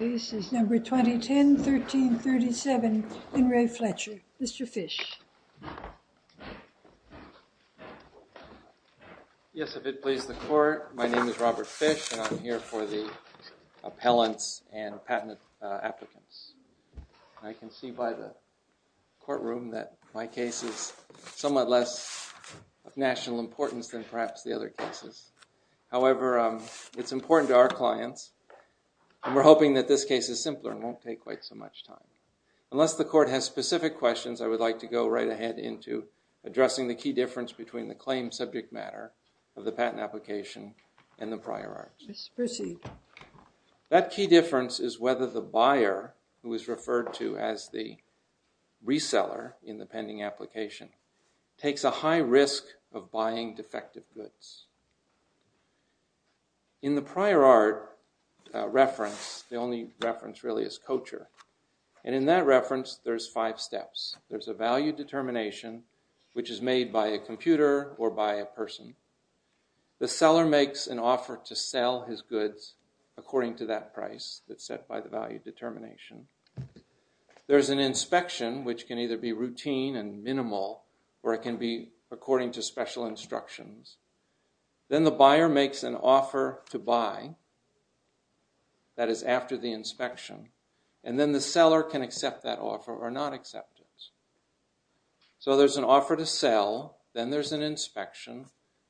Next case is number 2010, 1337, Henry Fletcher. Mr. Fish. Yes, if it pleases the court, my name is Robert Fish and I'm here for the appellants and patent applicants. I can see by the courtroom that my case is somewhat less of national importance than perhaps the other cases. However, it's important to our clients and we're hoping that this case is simpler and won't take quite so much time. Unless the court has specific questions, I would like to go right ahead into addressing the key difference between the claim subject matter of the patent application and the prior arts. That key difference is whether the buyer, who is referred to as the reseller in the pending application, takes a high risk of buying defective goods. In the prior art reference, the only reference really is Kocher, and in that reference there's five steps. There's a value determination, which is made by a computer or by a person. The seller makes an offer to sell his goods according to that price that's set by the value determination. There's an inspection, which can either be routine and minimal or it can be according to special instructions. Then the buyer makes an offer to buy, that is after the inspection. And then the seller can accept that offer or not accept it. So there's an offer to sell, then there's an inspection,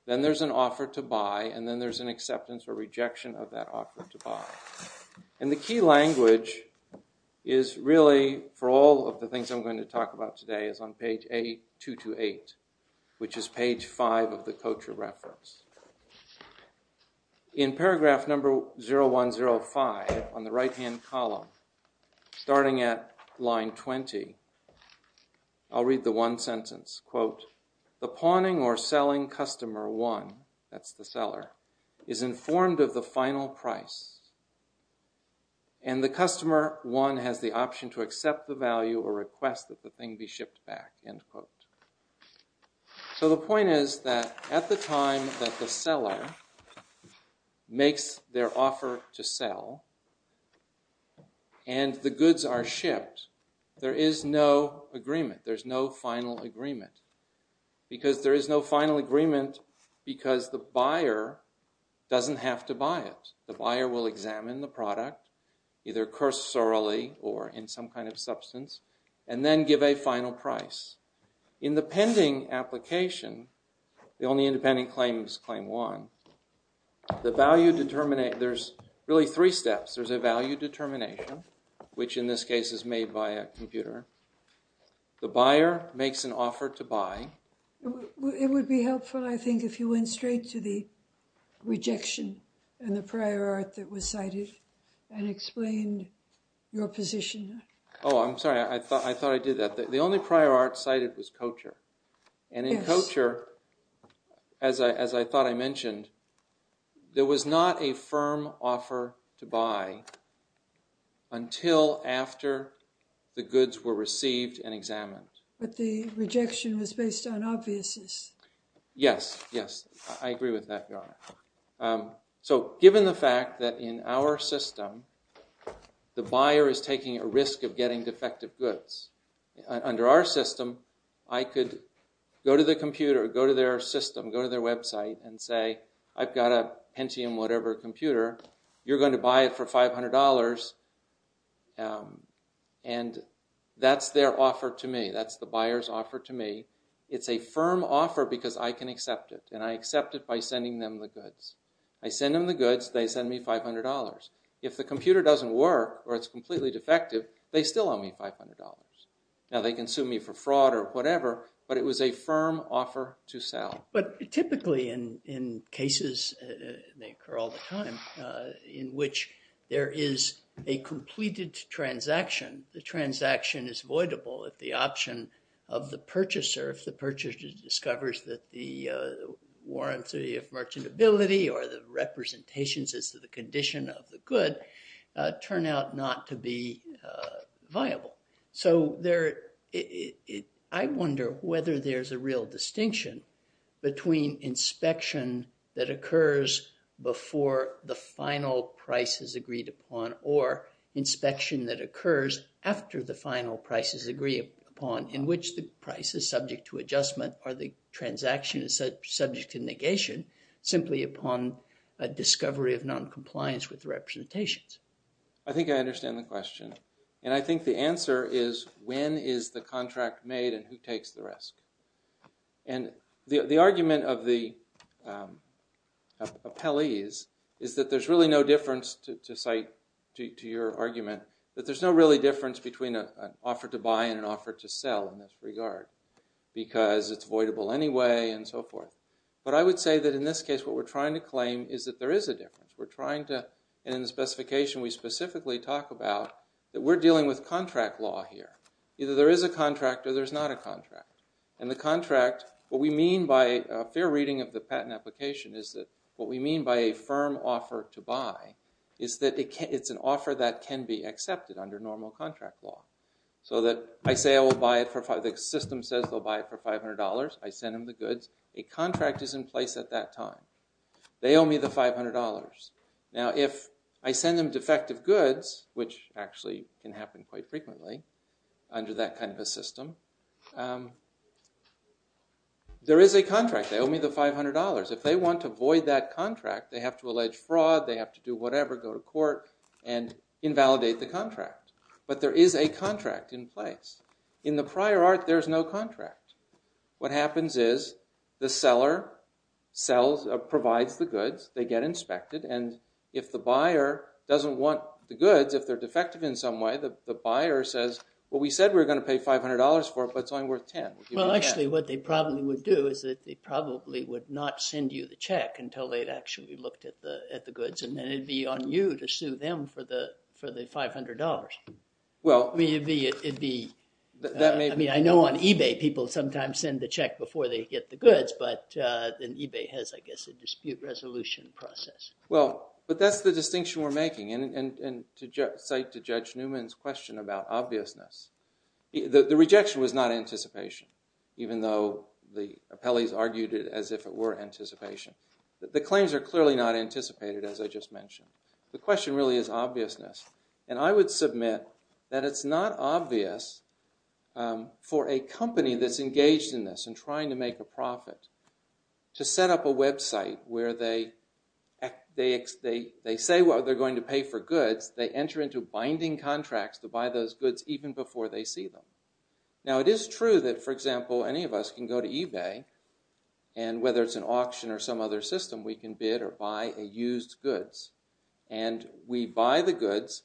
then there's an offer to buy, and then there's an acceptance or rejection of that offer to buy. And the key language is really, for all of the things I'm going to talk about today, is on page A228, which is page 5 of the Kocher reference. In paragraph number 0105 on the right-hand column, starting at line 20, I'll read the one sentence. Quote, the pawning or selling customer 1, that's the seller, is informed of the final price, and the customer 1 has the option to accept the value or request that the thing be shipped back. End quote. So the point is that at the time that the seller makes their offer to sell and the goods are shipped, there is no agreement, there's no final agreement. Because there is no final agreement, because the buyer doesn't have to buy it. The buyer will examine the product, either cursorily or in some kind of substance, and then give a final price. In the pending application, the only independent claim is claim 1, There's really three steps. There's a value determination, which in this case is made by a computer. The buyer makes an offer to buy. It would be helpful, I think, if you went straight to the rejection and the prior art that was cited and explained your position. Oh, I'm sorry, I thought I did that. The only prior art cited was Kocher. And in Kocher, as I thought I mentioned, there was not a firm offer to buy until after the goods were received and examined. But the rejection was based on obviousness. Yes, yes, I agree with that, Your Honor. So given the fact that in our system the buyer is taking a risk of getting defective goods, under our system, I could go to the computer, go to their system, go to their website, and say, I've got a Pentium whatever computer. You're going to buy it for $500, and that's their offer to me. That's the buyer's offer to me. It's a firm offer because I can accept it, and I accept it by sending them the goods. I send them the goods, they send me $500. If the computer doesn't work or it's completely defective, they still owe me $500. Now they can sue me for fraud or whatever, but it was a firm offer to sell. But typically in cases, and they occur all the time, in which there is a completed transaction, the transaction is voidable if the option of the purchaser, if the purchaser discovers that the warranty of merchantability or the representations as to the condition of the good turn out not to be viable. So I wonder whether there's a real distinction between inspection that occurs before the final price is agreed upon or inspection that occurs after the final price is agreed upon in which the price is subject to adjustment or the transaction is subject to negation simply upon a discovery of noncompliance with representations. I think I understand the question. And I think the answer is when is the contract made and who takes the risk? And the argument of the appellees is that there's really no difference to cite to your argument that there's no really difference between an offer to buy and an offer to sell in this regard because it's voidable anyway and so forth. But I would say that in this case what we're trying to claim is that there is a difference. We're trying to, and in the specification we specifically talk about, that we're dealing with contract law here. Either there is a contract or there's not a contract. And the contract, what we mean by a fair reading of the patent application is that what we mean by a firm offer to buy is that it's an offer that can be accepted under normal contract law. So that I say I will buy it for, the system says they'll buy it for $500. I send them the goods. A contract is in place at that time. They owe me the $500. Now if I send them defective goods, which actually can happen quite frequently under that kind of a system, there is a contract. They owe me the $500. If they want to void that contract, they have to allege fraud. They have to do whatever, go to court and invalidate the contract. But there is a contract in place. In the prior art, there's no contract. What happens is the seller provides the goods. They get inspected. And if the buyer doesn't want the goods, if they're defective in some way, the buyer says, well, we said we were going to pay $500 for it, but it's only worth $10. Well, actually what they probably would do is that they probably would not send you the check until they'd actually looked at the goods. And then it'd be on you to sue them for the $500. I mean, I know on eBay people sometimes send the check before they get the goods, but then eBay has, I guess, a dispute resolution process. Well, but that's the distinction we're making. And to cite to Judge Newman's question about obviousness, the rejection was not anticipation, even though the appellees argued it as if it were anticipation. The claims are clearly not anticipated, as I just mentioned. The question really is obviousness. And I would submit that it's not obvious for a company that's engaged in this and trying to make a profit to set up a website where they say they're going to pay for goods, they enter into binding contracts to buy those goods even before they see them. Now it is true that, for example, any of us can go to eBay, and whether it's an auction or some other system, we can bid or buy a used goods. And we buy the goods,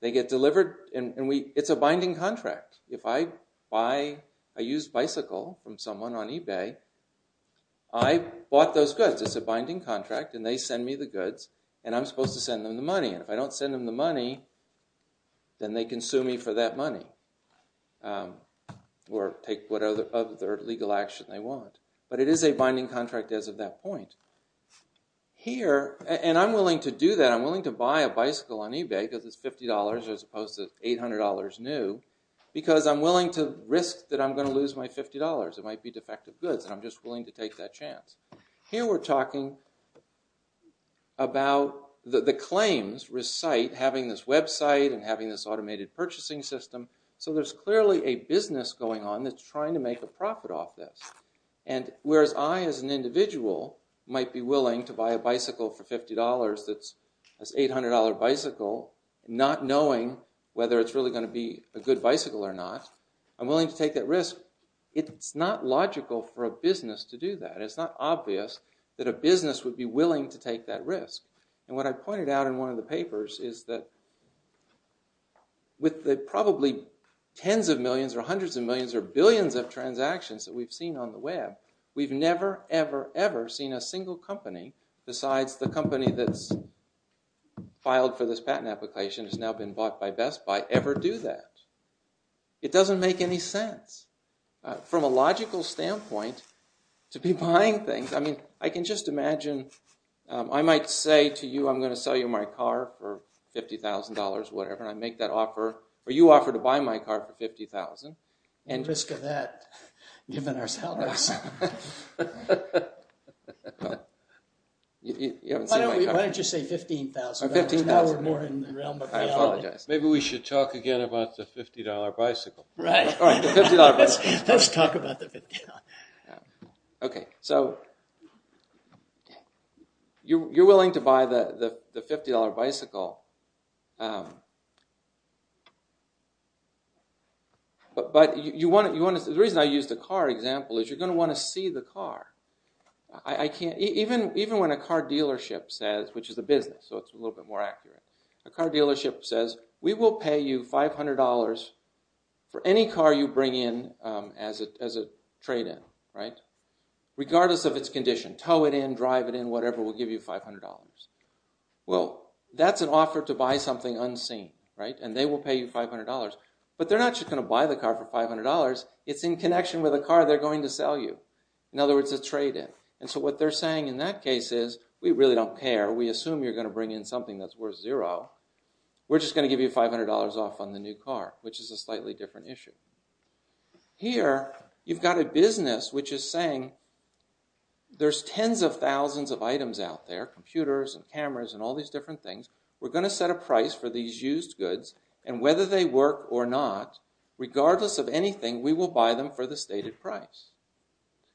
they get delivered, and it's a binding contract. If I buy a used bicycle from someone on eBay, I bought those goods. It's a binding contract, and they send me the goods, and I'm supposed to send them the money. And if I don't send them the money, then they can sue me for that money or take whatever other legal action they want. But it is a binding contract as of that point. And I'm willing to do that. I'm willing to buy a bicycle on eBay because it's $50 as opposed to $800 new because I'm willing to risk that I'm going to lose my $50. It might be defective goods, and I'm just willing to take that chance. Here we're talking about the claims recite having this website and having this automated purchasing system. So there's clearly a business going on that's trying to make a profit off this. And whereas I, as an individual, might be willing to buy a bicycle for $50 that's an $800 bicycle, not knowing whether it's really going to be a good bicycle or not, I'm willing to take that risk. It's not logical for a business to do that. It's not obvious that a business would be willing to take that risk. And what I pointed out in one of the papers is that with the probably tens of millions or hundreds of millions or billions of transactions that we've seen on the web, we've never, ever, ever seen a single company, besides the company that's filed for this patent application has now been bought by Best Buy, ever do that. It doesn't make any sense. From a logical standpoint, to be buying things, I mean, I can just imagine, I might say to you, I'm going to sell you my car for $50,000, whatever, and I make that offer, or you offer to buy my car for $50,000. At the risk of that, given our salaries. Why don't you say $15,000? Now we're more in the realm of reality. Maybe we should talk again about the $50 bicycle. Right. Let's talk about the $50 bicycle. Okay, so, you're willing to buy the $50 bicycle, but the reason I used the car example is you're going to want to see the car. I can't, even when a car dealership says, which is a business, so it's a little bit more accurate. A car dealership says, we will pay you $500 for any car you bring in as a trade-in. Regardless of its condition, tow it in, drive it in, whatever, we'll give you $500. Well, that's an offer to buy something unseen, and they will pay you $500. But they're not just going to buy the car for $500, it's in connection with a car they're going to sell you. In other words, a trade-in. And so what they're saying in that case is, we really don't care, we assume you're going to bring in something that's worth zero, we're just going to give you $500 off on the new car, which is a slightly different issue. Here, you've got a business which is saying, there's tens of thousands of items out there, computers and cameras and all these different things, we're going to set a price for these used goods, and whether they work or not, regardless of anything, we will buy them for the stated price.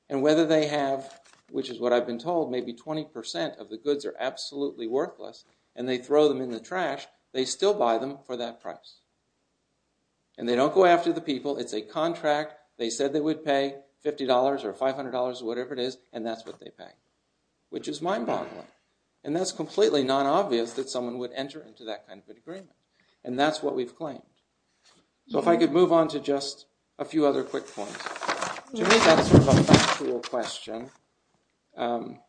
And whether they have, which is what I've been told, maybe 20% of the goods are absolutely worthless, and they throw them in the trash, they still buy them for that price. And they don't go after the people, it's a contract, they said they would pay $50 or $500 or whatever it is, and that's what they pay. Which is mind-boggling. And that's completely non-obvious that someone would enter into that kind of an agreement. And that's what we've claimed. So if I could move on to just a few other quick points. To me, that's sort of a factual question. In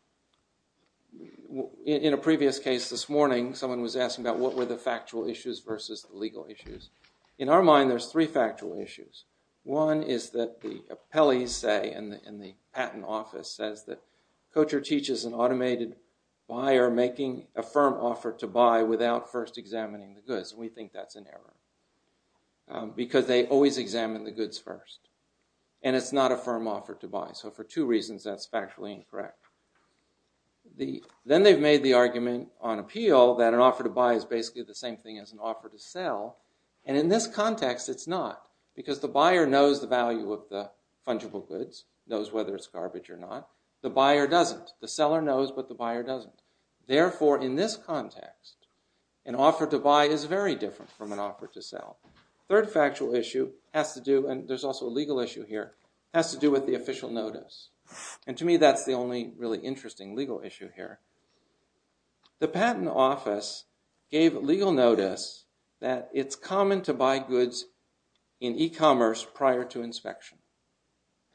a previous case this morning, someone was asking about what were the factual issues versus the legal issues. In our mind, there's three factual issues. One is that the appellees say, and the patent office says that, Kocher teaches an automated buyer making a firm offer to buy without first examining the goods. And we think that's an error. Because they always examine the goods first. And it's not a firm offer to buy. So for two reasons that's factually incorrect. Then they've made the argument on appeal that an offer to buy is basically the same thing as an offer to sell. And in this context, it's not. Because the buyer knows the value of the fungible goods, knows whether it's garbage or not. The buyer doesn't. The seller knows, but the buyer doesn't. Therefore, in this context, an offer to buy is very different from an offer to sell. Third factual issue has to do, and there's also a legal issue here, has to do with the official notice. And to me, that's the only really interesting legal issue here. The patent office gave legal notice that it's common to buy goods in e-commerce prior to inspection.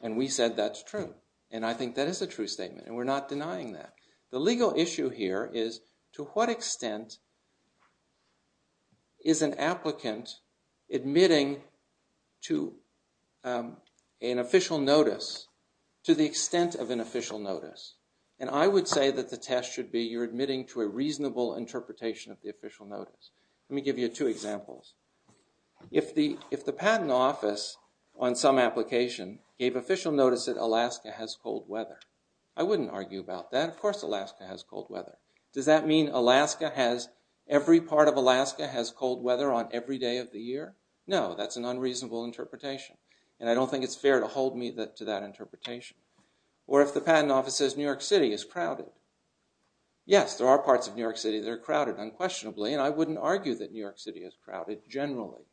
And we said that's true. And I think that is a true statement, and we're not denying that. The legal issue here is to what extent is an applicant admitting to an official notice to the extent of an official notice? And I would say that the test should be you're admitting to a reasonable interpretation of the official notice. Let me give you two examples. If the patent office on some application gave official notice that Alaska has cold weather, I wouldn't argue about that. Of course Alaska has cold weather. Does that mean every part of Alaska has cold weather on every day of the year? No, that's an unreasonable interpretation, and I don't think it's fair to hold me to that interpretation. Or if the patent office says New York City is crowded, yes, there are parts of New York City that are crowded unquestionably, and I wouldn't argue that New York City is crowded generally.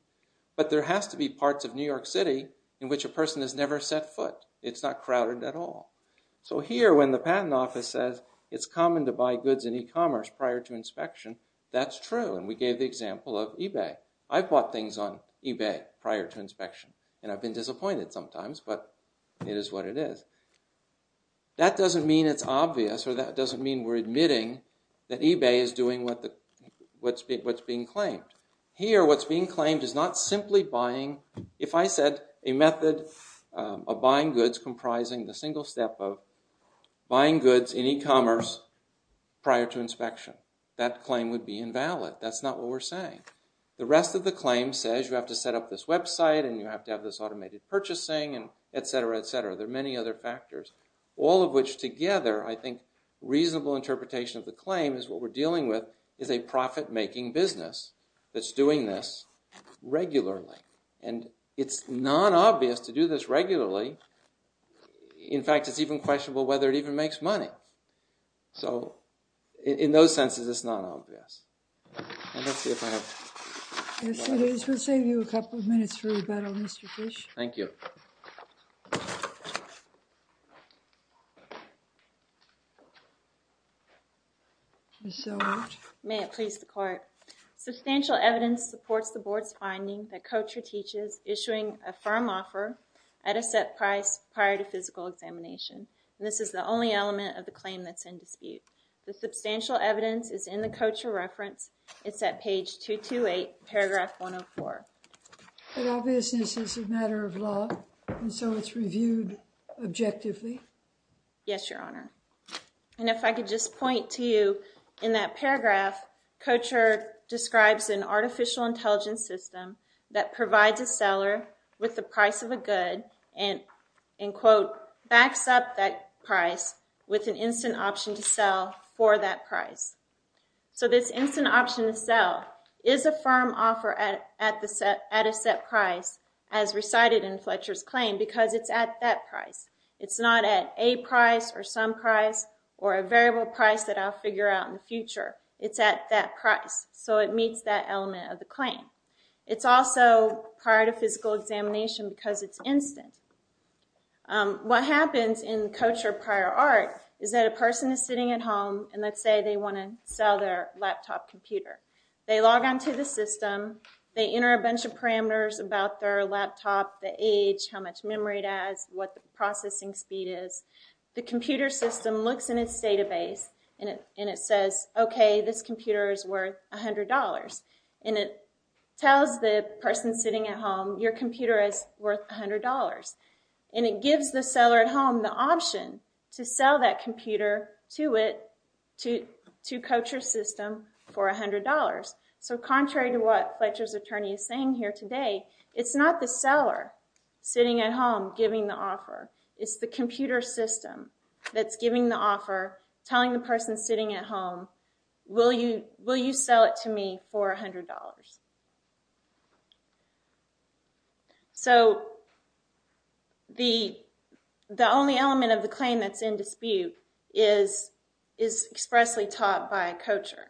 But there has to be parts of New York City in which a person has never set foot. It's not crowded at all. So here when the patent office says it's common to buy goods in e-commerce prior to inspection, that's true, and we gave the example of eBay. I've bought things on eBay prior to inspection, and I've been disappointed sometimes, but it is what it is. That doesn't mean it's obvious, or that doesn't mean we're admitting that eBay is doing what's being claimed. Here what's being claimed is not simply buying. If I said a method of buying goods comprising the single step of buying goods in e-commerce prior to inspection, that claim would be invalid. That's not what we're saying. The rest of the claim says you have to set up this website, and you have to have this automated purchasing, etc., etc. There are many other factors, all of which together, I think a reasonable interpretation of the claim is what we're dealing with is a profit-making business that's doing this regularly, and it's non-obvious to do this regularly. In fact, it's even questionable whether it even makes money. So in those senses, it's non-obvious. And let's see if I have... Yes, it is. We'll save you a couple of minutes for rebuttal, Mr. Fish. Thank you. Ms. Zellweger. May it please the court. Substantial evidence supports the board's finding that Coachra teaches issuing a firm offer at a set price prior to physical examination. This is the only element of the claim that's in dispute. The substantial evidence is in the Coachra reference. It's at page 228, paragraph 104. But obviousness is a matter of law, and so it's reviewed objectively? Yes, Your Honor. And if I could just point to you in that paragraph, Coachra describes an artificial intelligence system that provides a seller with the price of a good and, in quote, backs up that price with an instant option to sell for that price. So this instant option to sell is a firm offer at a set price as recited in Fletcher's claim because it's at that price. It's not at a price or some price or a variable price that I'll figure out in the future. It's at that price, so it meets that element of the claim. It's also prior to physical examination because it's instant. What happens in Coachra prior art is that a person is sitting at home, and let's say they want to sell their laptop computer. They log on to the system. They enter a bunch of parameters about their laptop, the age, how much memory it has, what the processing speed is. The computer system looks in its database, and it says, okay, this computer is worth $100. And it tells the person sitting at home, your computer is worth $100. And it gives the seller at home the option to sell that computer to it, to Coachra's system for $100. So contrary to what Fletcher's attorney is saying here today, it's not the seller sitting at home giving the offer. It's the computer system that's giving the offer, telling the person sitting at home, will you sell it to me for $100? So the only element of the claim that's in dispute is expressly taught by Coachra.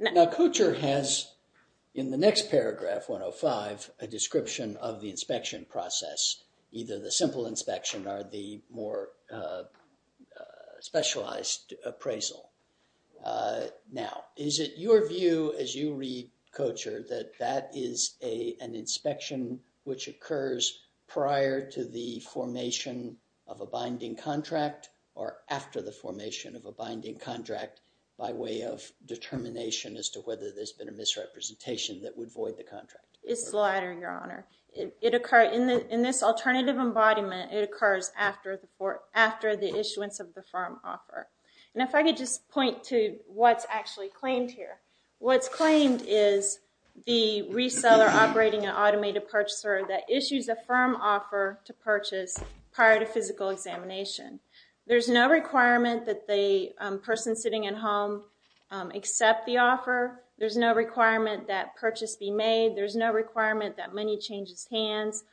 Now Coachra has, in the next paragraph, 105, a description of the inspection process, either the simple inspection or the more specialized appraisal. Now, is it your view as you read Coachra that that is an inspection which occurs prior to the formation of a binding contract or after the formation of a binding contract by way of determination as to whether there's been a misrepresentation that would void the contract? It's the latter, Your Honor. In this alternative embodiment, it occurs after the issuance of the firm offer. And if I could just point to what's actually claimed here. What's claimed is the reseller operating an automated purchaser that issues a firm offer to purchase prior to physical examination. There's no requirement that the person sitting at home accept the offer. There's no requirement that purchase be made. There's no requirement that money change his hands.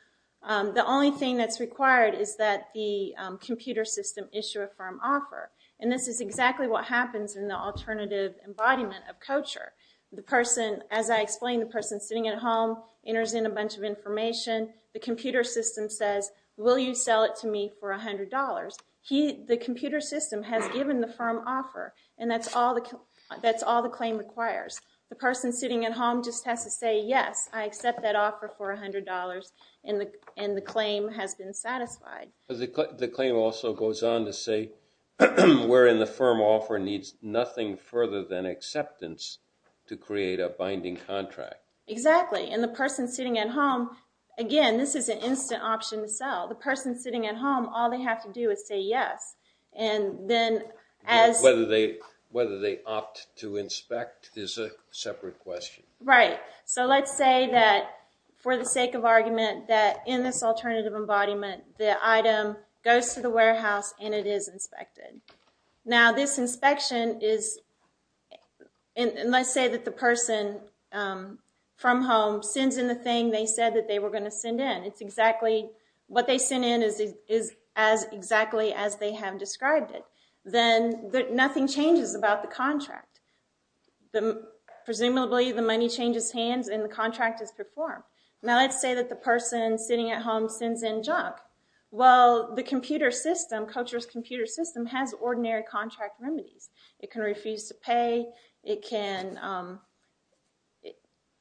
The only thing that's required is that the computer system issue a firm offer. And this is exactly what happens in the alternative embodiment of Coachra. The person, as I explained, the person sitting at home enters in a bunch of information. The computer system says, will you sell it to me for $100? The computer system has given the firm offer and that's all the claim requires. The person sitting at home just has to say, yes, I accept that offer for $100 and the claim has been satisfied. The claim also goes on to say wherein the firm offer needs nothing further than acceptance to create a binding contract. Exactly. And the person sitting at home, again, this is an instant option to sell. The person sitting at home, all they have to do is say yes. And then as... Whether they opt to inspect is a separate question. Right. So let's say that for the sake of argument that in this alternative embodiment the item goes to the warehouse and it is inspected. Now this inspection is... And let's say that the person from home sends in the thing they said that they were going to send in. It's exactly... What they send in is exactly as they have described it. Then nothing changes about the contract. Presumably the money changes hands and the contract is performed. Now let's say that the person sitting at home sends in junk. Well, the computer system, Kocher's computer system has ordinary contract remedies. It can refuse to pay. It can...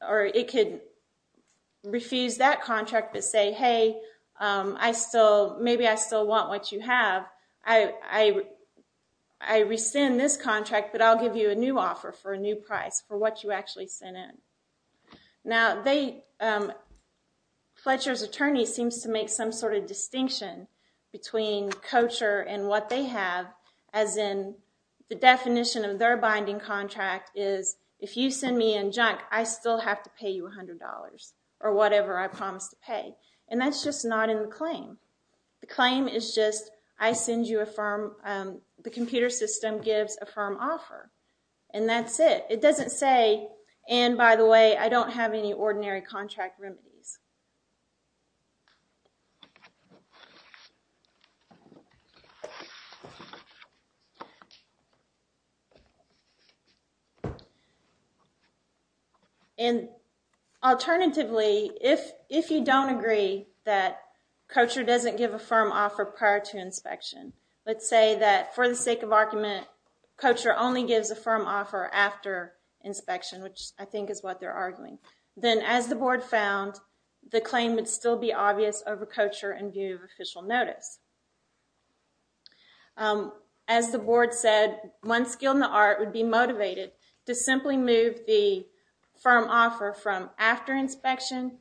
Or it could refuse that contract but say, hey, I still... Maybe I still want what you have. I rescind this contract, but I'll give you a new offer for a new price for what you actually sent in. Now they... Fletcher's attorney seems to make some sort of distinction between Kocher and what they have as in the definition of their binding contract is if you send me in junk, I still have to pay you $100 or whatever I promise to pay. And that's just not in the claim. The claim is just I send you a firm... The computer system gives a firm offer. And that's it. It doesn't say, and by the way, I don't have any ordinary contract remedies. And alternatively, if you don't agree that Kocher doesn't give a firm offer prior to inspection, let's say that for the sake of argument, Kocher only gives a firm offer after inspection, which I think is what they're arguing. Then as the board found, the claim would still be obvious over Kocher in view of official notice. As the board said, one skill in the art would be motivated to simply move the firm offer from after inspection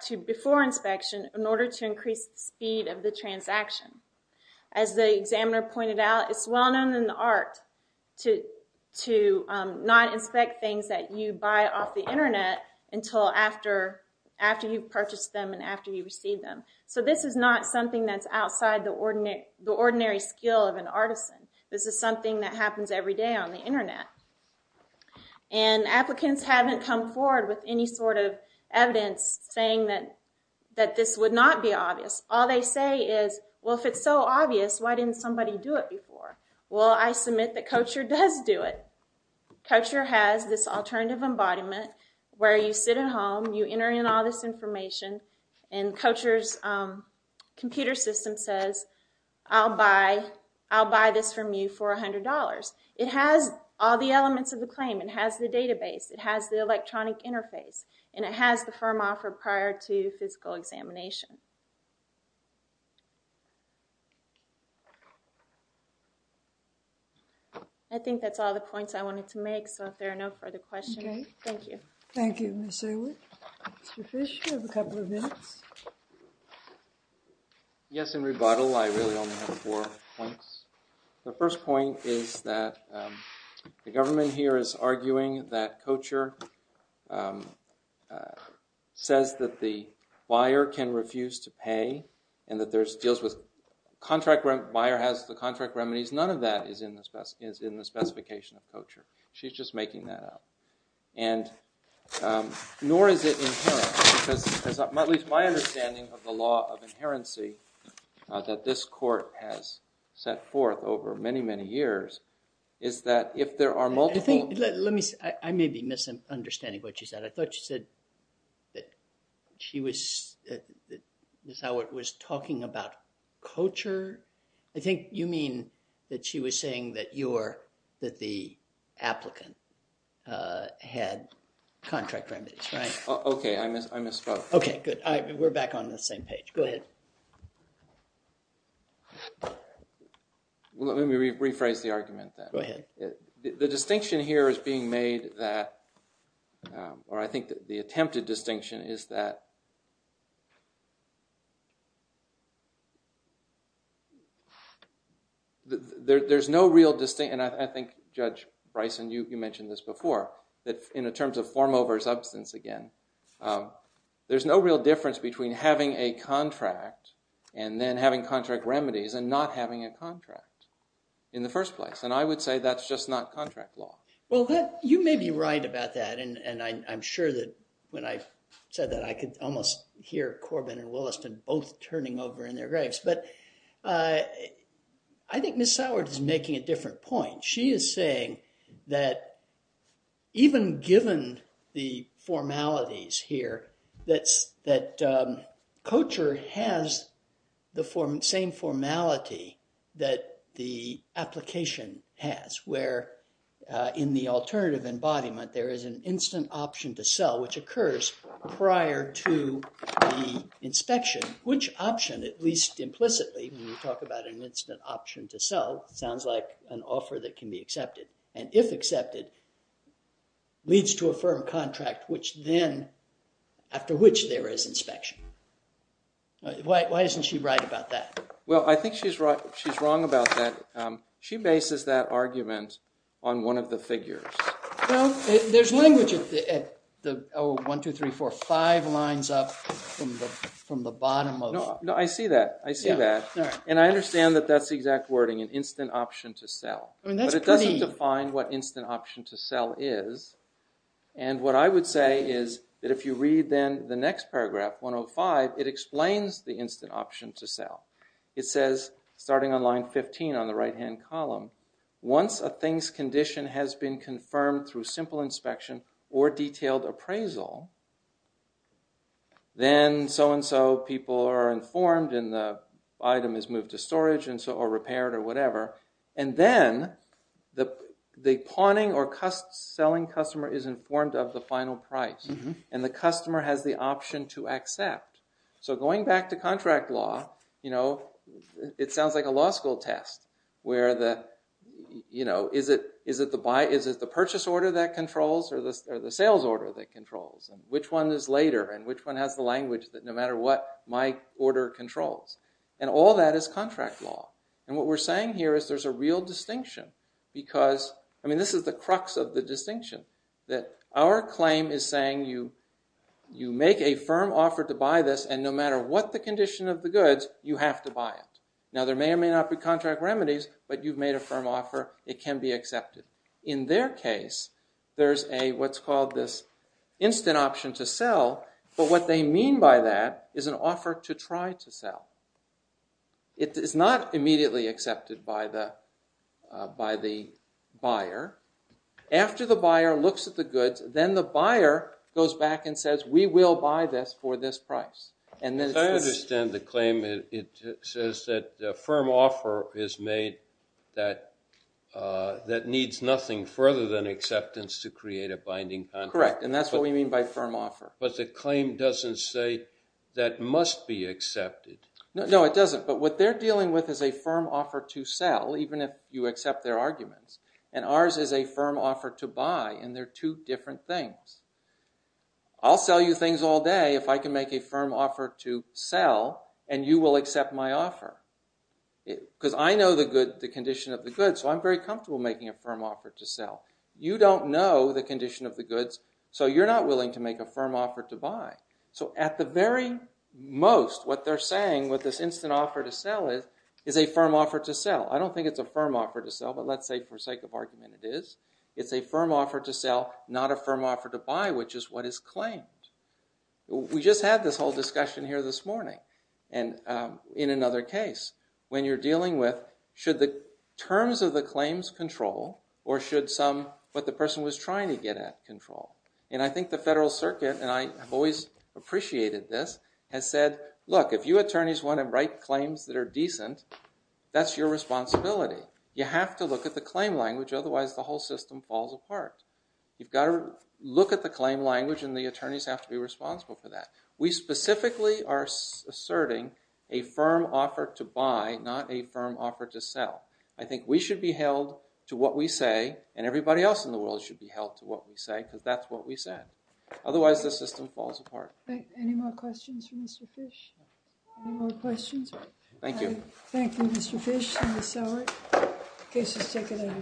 to before inspection in order to increase the speed of the transaction. As the examiner pointed out, it's well known in the art to not inspect things that you buy off the Internet until after you purchase them and after you receive them. So this is not something that's outside the ordinary skill of an artisan. This is something that happens every day on the Internet. And applicants haven't come forward with any sort of evidence saying that this would not be obvious. All they say is, well, if it's so obvious, why didn't somebody do it before? Well, I submit that Kocher does do it. Kocher has this alternative embodiment where you sit at home, you enter in all this information, and Kocher's computer system says, I'll buy this from you for $100. It has all the elements of the claim. It has the database. It has the electronic interface. And it has the firm offer prior to physical examination. I think that's all the points I wanted to make, so if there are no further questions, thank you. Thank you, Ms. Seward. Mr. Fish, you have a couple of minutes. Yes, in rebuttal, I really only have four points. The first point is that the government here is arguing that Kocher says that the buyer can refuse to pay and that there's deals with contract remedies. The buyer has the contract remedies. None of that is in the specification of Kocher. She's just making that up. Nor is it inherent, because at least my understanding of the law of inherency that this court has set forth over many, many years is that if there are multiple... I may be misunderstanding what you said. I thought you said that she was... Ms. Seward was talking about Kocher. I think you mean that she was saying that the applicant had contract remedies, right? Okay, I misspoke. Okay, good. We're back on the same page. Go ahead. Let me rephrase the argument then. Go ahead. The distinction here is being made that... or I think the attempted distinction is that... and I think, Judge Bryson, you mentioned this before, in terms of form over substance again, there's no real difference between having a contract and then having contract remedies and not having a contract in the first place. And I would say that's just not contract law. Well, you may be right about that, and I'm sure that when I said that I could almost hear Corbin and Williston both turning over in their graves. But I think Ms. Seward is making a different point. She is saying that even given the formalities here, that Kocher has the same formality that the application has, where in the alternative embodiment there is an instant option to sell, which occurs prior to the inspection. Which option, at least implicitly, when you talk about an instant option to sell, sounds like an offer that can be accepted. And if accepted, leads to a firm contract, after which there is inspection. Why isn't she right about that? Well, I think she's wrong about that. She bases that argument on one of the figures. Well, there's language at the one, two, three, four, five lines up from the bottom of... No, I see that. And I understand that that's the exact wording, an instant option to sell. But it doesn't define what instant option to sell is. And what I would say is that if you read then the next paragraph, 105, it explains the instant option to sell. It says, starting on line 15 on the right-hand column, once a thing's condition has been confirmed through simple inspection or detailed appraisal, then so-and-so people are informed and the item is moved to storage or repaired or whatever, and then the pawning or selling customer is informed of the final price and the customer has the option to accept. So going back to contract law, it sounds like a law school test where is it the purchase order that controls or the sales order that controls and which one is later and which one has the language that no matter what, my order controls. And all that is contract law. And what we're saying here is there's a real distinction because this is the crux of the distinction, that our claim is saying you make a firm offer to buy this and no matter what the condition of the goods, you have to buy it. Now there may or may not be contract remedies, but you've made a firm offer, it can be accepted. In their case, there's what's called this instant option to sell, but what they mean by that is an offer to try to sell. It is not immediately accepted by the buyer. After the buyer looks at the goods, then the buyer goes back and says we will buy this for this price. I understand the claim. It says that a firm offer is made that needs nothing further than acceptance to create a binding contract. Correct, and that's what we mean by firm offer. But the claim doesn't say that must be accepted. No, it doesn't. But what they're dealing with is a firm offer to sell, even if you accept their arguments. And ours is a firm offer to buy, and they're two different things. I'll sell you things all day if I can make a firm offer to sell, and you will accept my offer. Because I know the condition of the goods, so I'm very comfortable making a firm offer to sell. You don't know the condition of the goods, so you're not willing to make a firm offer to buy. So at the very most, what they're saying with this instant offer to sell is a firm offer to sell. I don't think it's a firm offer to sell, but let's say for sake of argument it is. It's a firm offer to sell, not a firm offer to buy, which is what is claimed. We just had this whole discussion here this morning in another case, when you're dealing with should the terms of the claims control or should what the person was trying to get at control? And I think the Federal Circuit, and I've always appreciated this, has said, look, if you attorneys want to write claims that are decent, that's your responsibility. You have to look at the claim language, otherwise the whole system falls apart. You've got to look at the claim language, and the attorneys have to be responsible for that. We specifically are asserting a firm offer to buy, not a firm offer to sell. I think we should be held to what we say, and everybody else in the world should be held to what we say, because that's what we said. Otherwise, the system falls apart. Any more questions for Mr. Fish? Any more questions? Thank you. Thank you, Mr. Fish, and Ms. Sowert. Case is taken.